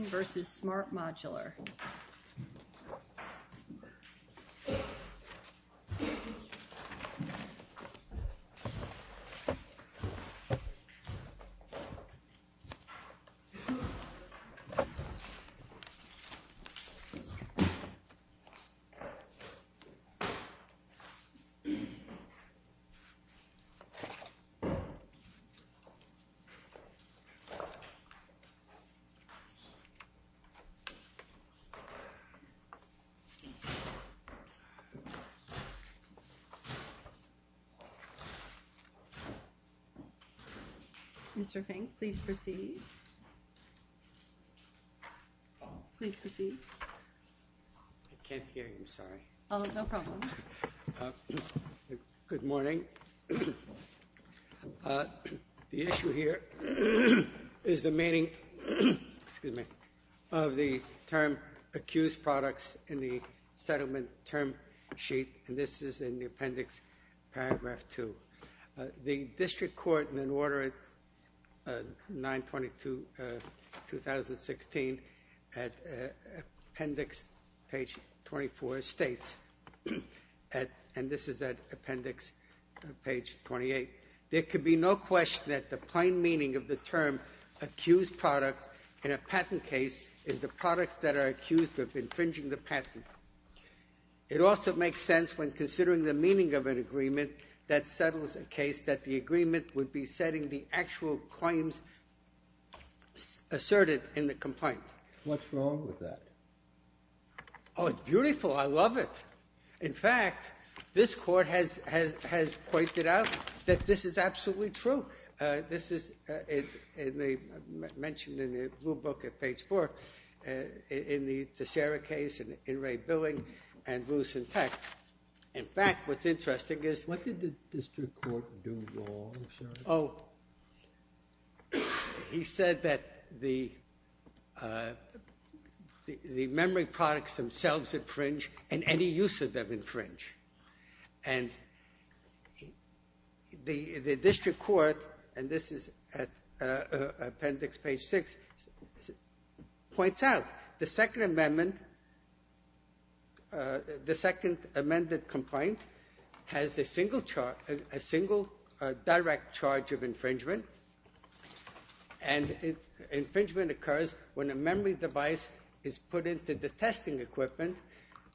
vs. Smart Modular Smart Modular Technologies vs. Smart Modular Technologies of the term accused products in the settlement term sheet and this is in the appendix paragraph 2. The district court in an order 922 2016 at appendix page 24 states, and this is at appendix page 28, there could be no question that the plain meaning of the term accused products in a patent case is the products that are accused of infringing the patent. It also makes sense when considering the meaning of an agreement that settles a case that the agreement would be setting the actual claims asserted in the complaint. What's wrong with that? Oh, it's beautiful. I love it. In fact, this court has pointed out that this is absolutely true. This is mentioned in the blue book at page 4 in the Sarah case and in Ray Billing and Bruce and Peck. In fact, what's interesting is... What did the district court do wrong? Oh, he said that the district court, and this is at appendix page 6, points out the Second Amendment, the second amended complaint has a single direct charge of infringement and infringement occurs when a memory device is put into the testing equipment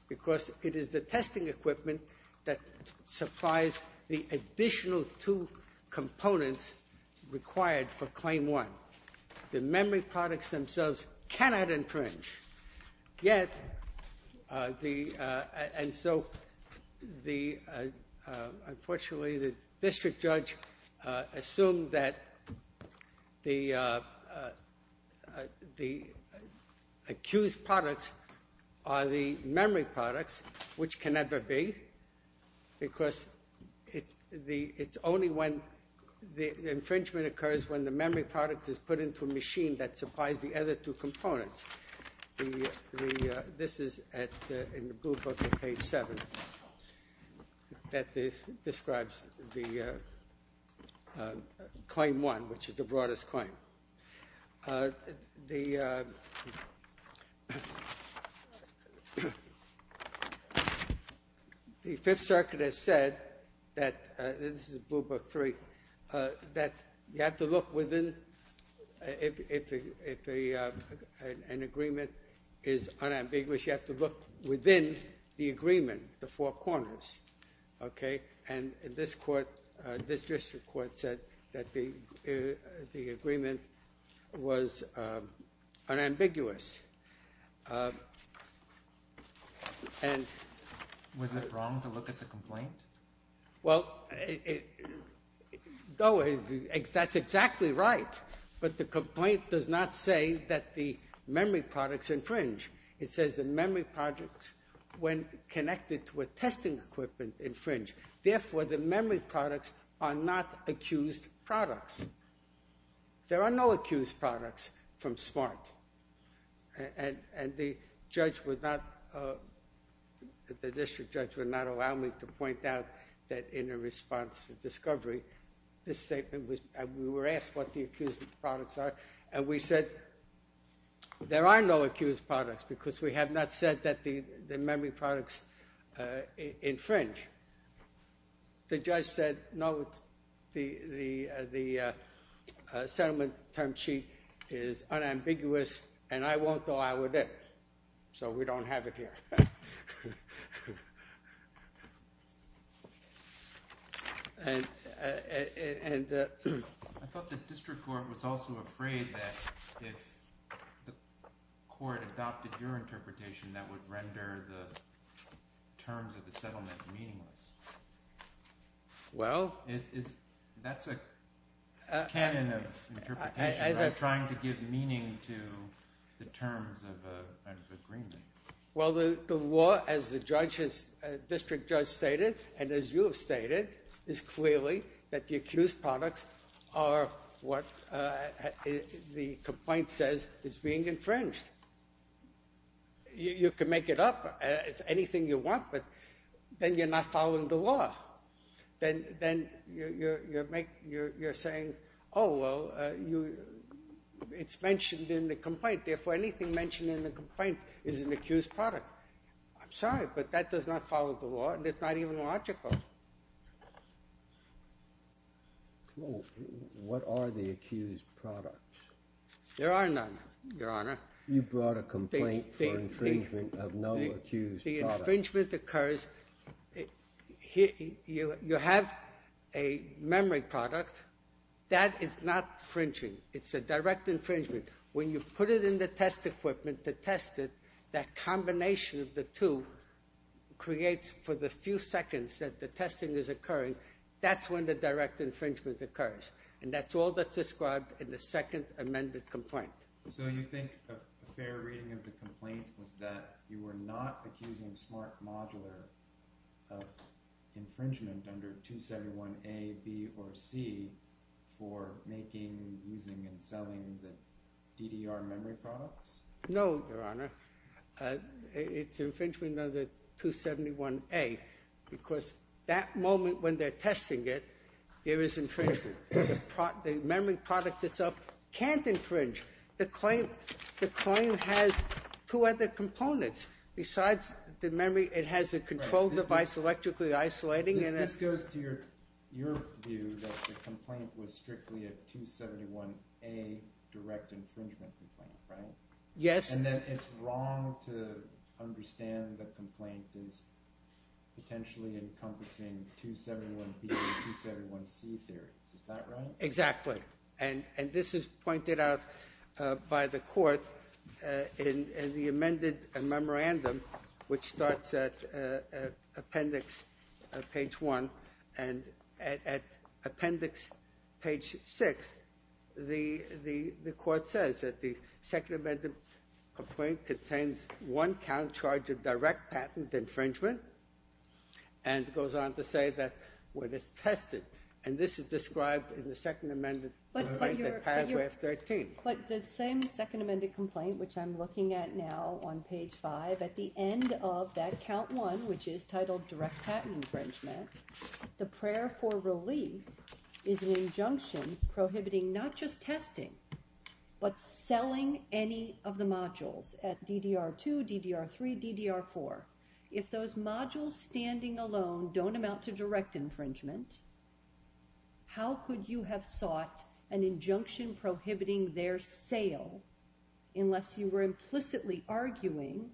because it is the testing equipment that supplies the additional two components required for claim one. The memory products themselves cannot infringe, yet the... And so the... Unfortunately, the district judge assumed that the accused products are the memory products, which can never be, because it's only when the infringement occurs when the memory product is put into a machine that supplies the other two components. This is in the blue book at page 7. That describes the claim 1, which is the Fifth Circuit has said that, this is blue book 3, that you have to look within, if an agreement is unambiguous, you have to look within the agreement, the four corners, okay? And this court, this district court said that the agreement was unambiguous. And... Was it wrong to look at the complaint? Well, that's exactly right, but the complaint does not say that the memory products infringe. It says the memory products, when connected to a testing equipment, infringe. Therefore, the memory products are not accused products. There are no accused products from smart. And the judge would not... The district judge would not allow me to point out that in a response to discovery, this statement was... We were asked what the accused products are, and we said there are no accused products, because we have not said that the memory products infringe. The judge said, no, the settlement term sheet is unambiguous, and I won't allow it in. So we don't have it here. I thought the district court was also afraid that if the court adopted your interpretation, that would render the terms of the settlement meaningless. Well... That's a canon of interpretation, right? Trying to give meaning to the terms of a Well, the law, as the district judge stated, and as you have stated, is clearly that the accused products are what the complaint says is being infringed. You can make it up. It's anything you want, but then you're not following the law. Then you're saying, oh, well, it's mentioned in the is an accused product. I'm sorry, but that does not follow the law, and it's not even logical. What are the accused products? There are none, Your Honor. You brought a complaint for infringement of no accused product. The infringement occurs... You have a memory product. That is not infringing. It's a direct infringement. When you put it in the test equipment to that combination of the two creates, for the few seconds that the testing is occurring, that's when the direct infringement occurs, and that's all that's described in the second amended complaint. So you think a fair reading of the complaint was that you were not accusing Smart Modular of infringement under 271A, B, or C for making, using, and selling the DDR memory products? No, Your Honor. It's infringement under 271A, because that moment when they're testing it, there is infringement. The memory product itself can't infringe. The claim has two other components. Besides the memory, it has a control device, electrically isolating, and... This goes to your view that the complaint was strictly a 271A direct infringement complaint, right? Yes. And then it's wrong to understand the complaint is potentially encompassing 271B and 271C theories. Is that right? Exactly. And this is pointed out by the court in the amended memorandum, which starts at appendix page 1, and at appendix page 6, the court says that the second amended complaint contains one count charge of direct patent infringement, and goes on to say that when it's tested, and this is described in the second amended paragraph 13. But the same second amended complaint, which I'm looking at now on page 5, at the end of that count 1, which is titled direct patent infringement, the prayer for relief is an injunction prohibiting not just testing, but selling any of the modules at DDR2, DDR3, DDR4. If those modules standing alone don't amount to direct infringement, how could you have sought an injunction prohibiting their sale unless you were implicitly arguing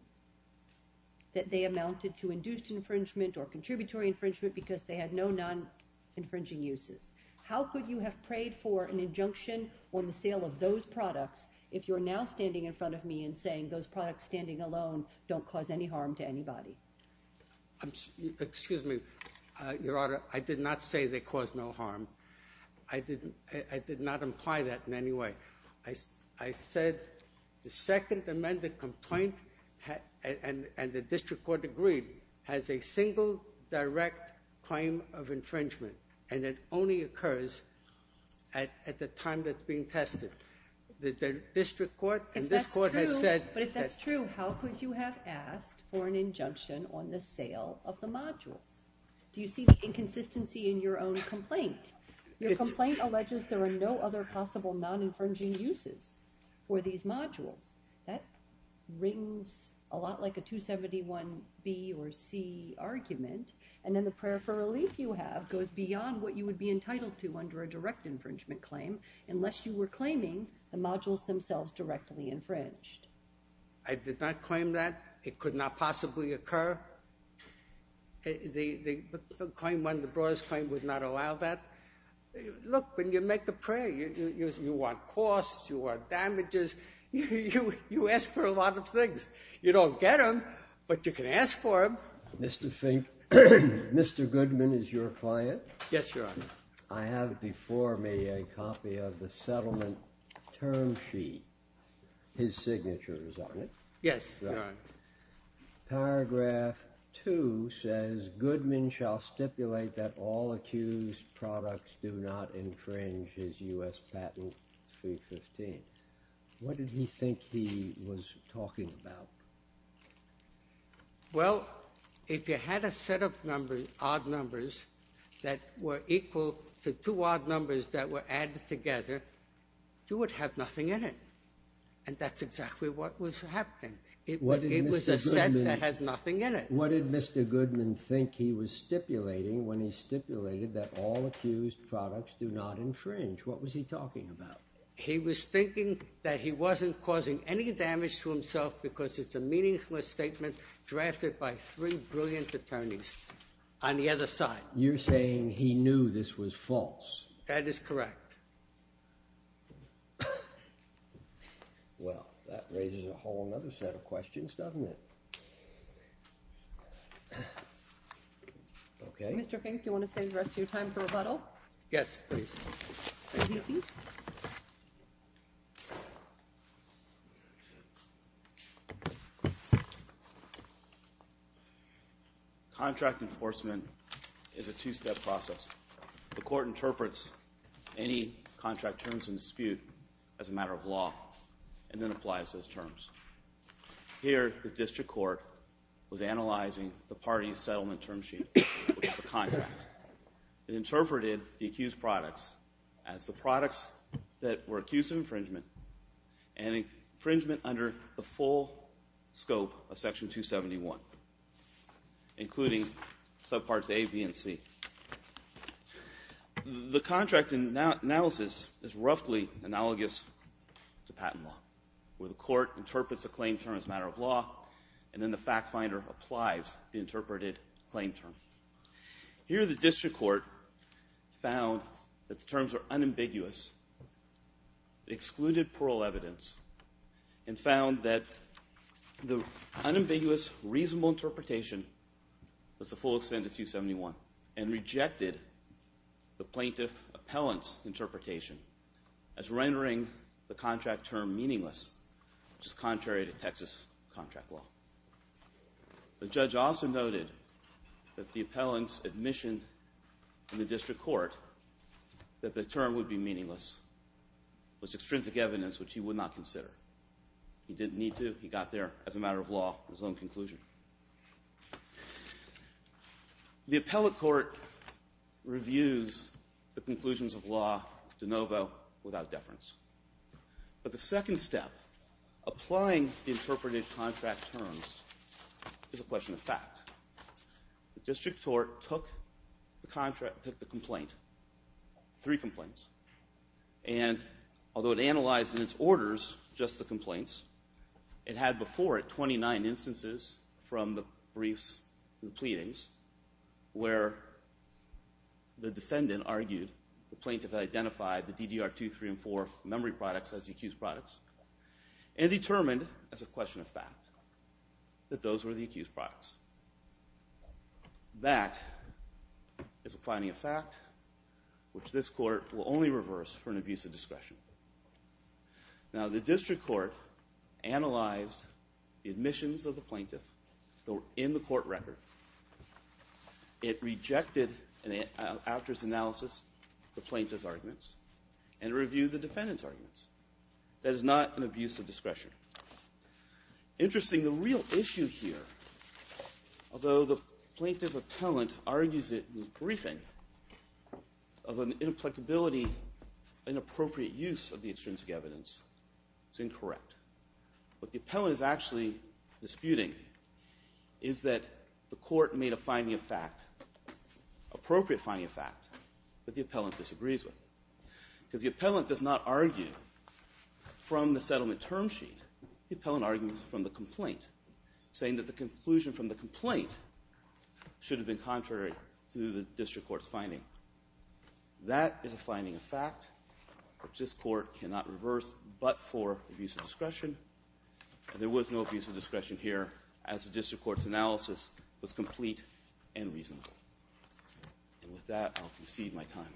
that they amounted to induced infringement or contributory infringement because they had no non-infringing uses? How could you have prayed for an injunction on the sale of those products if you're now standing in front of me and saying those products standing alone don't cause any harm to anybody? Excuse me, Your Honor, I did not say they cause no harm. I did not imply that in any way. I said the second amended complaint and the district court agreed has a single direct claim of infringement, and it only occurs at the time that's being tested. The district court and this but if that's true, how could you have asked for an injunction on the sale of the modules? Do you see the inconsistency in your own complaint? Your complaint alleges there are no other possible non-infringing uses for these modules. That rings a lot like a 271B or C argument, and then the prayer for relief you have goes beyond what you would be entitled to under a direct infringement claim unless you were claiming the modules themselves directly infringed. I did not claim that. It could not possibly occur. The claim, one of the broadest claims, would not allow that. Look, when you make the prayer, you want costs, you want damages, you ask for a lot of things. You don't get them, but you can ask for them. Mr. Fink, Mr. Goodman is your client? Yes, Your Honor. I have before me a copy of the settlement term sheet. His signature is on it. Yes, Your Honor. Paragraph 2 says, Goodman shall stipulate that all accused products do not infringe his U.S. patent 315. What did he think he was talking about? Well, if you had a set of numbers, odd numbers, that were equal to two odd numbers that were added together, you would have nothing in it. And that's exactly what was happening. It was a set that has nothing in it. What did Mr. Goodman think he was stipulating when he stipulated that all accused products do not infringe? What was he talking about? He was thinking that he wasn't causing any damage to himself because it's a meaningless statement drafted by three brilliant attorneys on the other side. You're saying he knew this was false? That is correct. Well, that raises a whole other set of questions, doesn't it? Okay. Mr. Fink, do you want to save the rest of your time for rebuttal? Yes, please. Contract enforcement is a two-step process. The court interprets any contract terms in dispute as a matter of law and then applies those terms. Here, the district court was analyzing the party's settlement term sheet, which is a contract. It interpreted the accused products as the products that were accused of infringement and infringement under the full scope of Section 271, including subparts A, B, and C. The contract analysis is roughly analogous to patent law, where the court interprets a claim term as a matter of law and then the fact finder applies the interpreted claim term. Here, the district court found that the terms are unambiguous, excluded plural evidence, and found that the unambiguous reasonable interpretation was the full extent of 271 and rejected the plaintiff appellant's interpretation as rendering the contract term meaningless, which is contrary to Texas contract law. The judge also noted that the appellant's admission in the district court that the term would be meaningless was extrinsic evidence which he would not consider. He didn't need to. He got there as a matter of law, his own conclusion. The appellate court reviews the conclusions of law de novo without deference. But the second step, applying the interpreted contract terms, is a question of fact. The district court took the complaint, three complaints, and although it analyzed in its orders just the complaints, it had before it 29 instances from the briefs, the pleadings, where the defendant argued the plaintiff identified the DDR2, 3, and 4 memory products as the accused products and determined as a question of fact that those were the accused products. That is a finding of fact which this court will only reverse for an abuse of discretion. Now the district court analyzed the admissions of the plaintiff in the court record. It rejected an actress analysis, the plaintiff's arguments, and reviewed the defendant's arguments. That is not an abuse of discretion. Interesting, the real issue here, although the plaintiff appellant argues it in the briefing, of an inapplicability, inappropriate use of the extrinsic evidence, it's incorrect. What the appellant is actually disputing is that the court made a finding of fact, appropriate finding of fact, that the appellant disagrees with. Because the appellant does not argue from the settlement term sheet, the appellant argues from the complaint, saying that the court's finding. That is a finding of fact which this court cannot reverse but for abuse of discretion. There was no abuse of discretion here as the district court's analysis was complete and reasonable. And with that, I'll concede my time.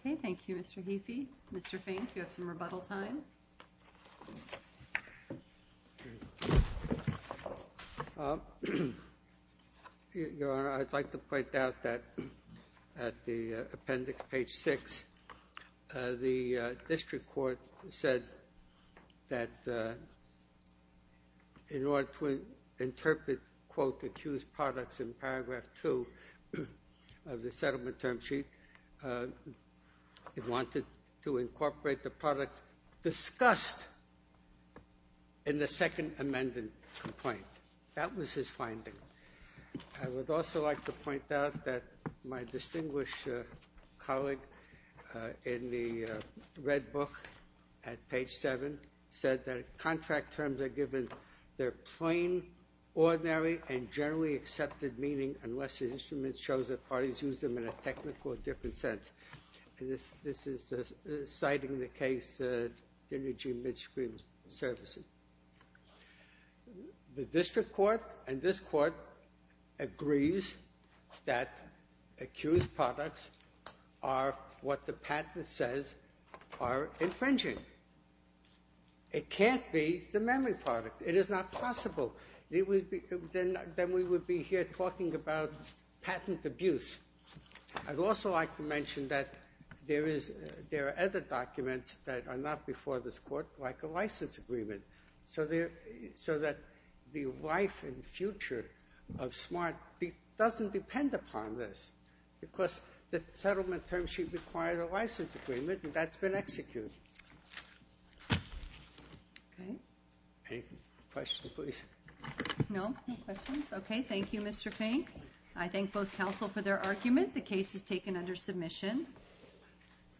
Okay, thank you Mr. Heafey. Mr. Fink, you have some rebuttal time. Your Honor, I'd like to point out that at the appendix, page 6, the district court said that in order to interpret, quote, accused products in paragraph 2 of the settlement term sheet, it wanted to incorporate the products discussed in the second amended complaint. That was his finding. I would also like to point out that my distinguished colleague in the red book at page 7 said that contract terms are given their plain, ordinary, and generally accepted meaning unless the instrument shows that parties use them in a technical or different sense. And this is citing the case of energy mid-screen services. The district court and this court agrees that accused products are what the patent says are infringing. It can't be the memory product. It is not possible. Then we would be here talking about patent abuse. I'd also like to mention that there are other documents that are not before this court like a license agreement so that the life and future of SMART doesn't depend upon this because the settlement term sheet required a license agreement and that's been executed. Okay. Any questions, please? No, no questions. Okay, thank you, Mr. Fink. I thank both counsel for their argument. The case is taken under submission.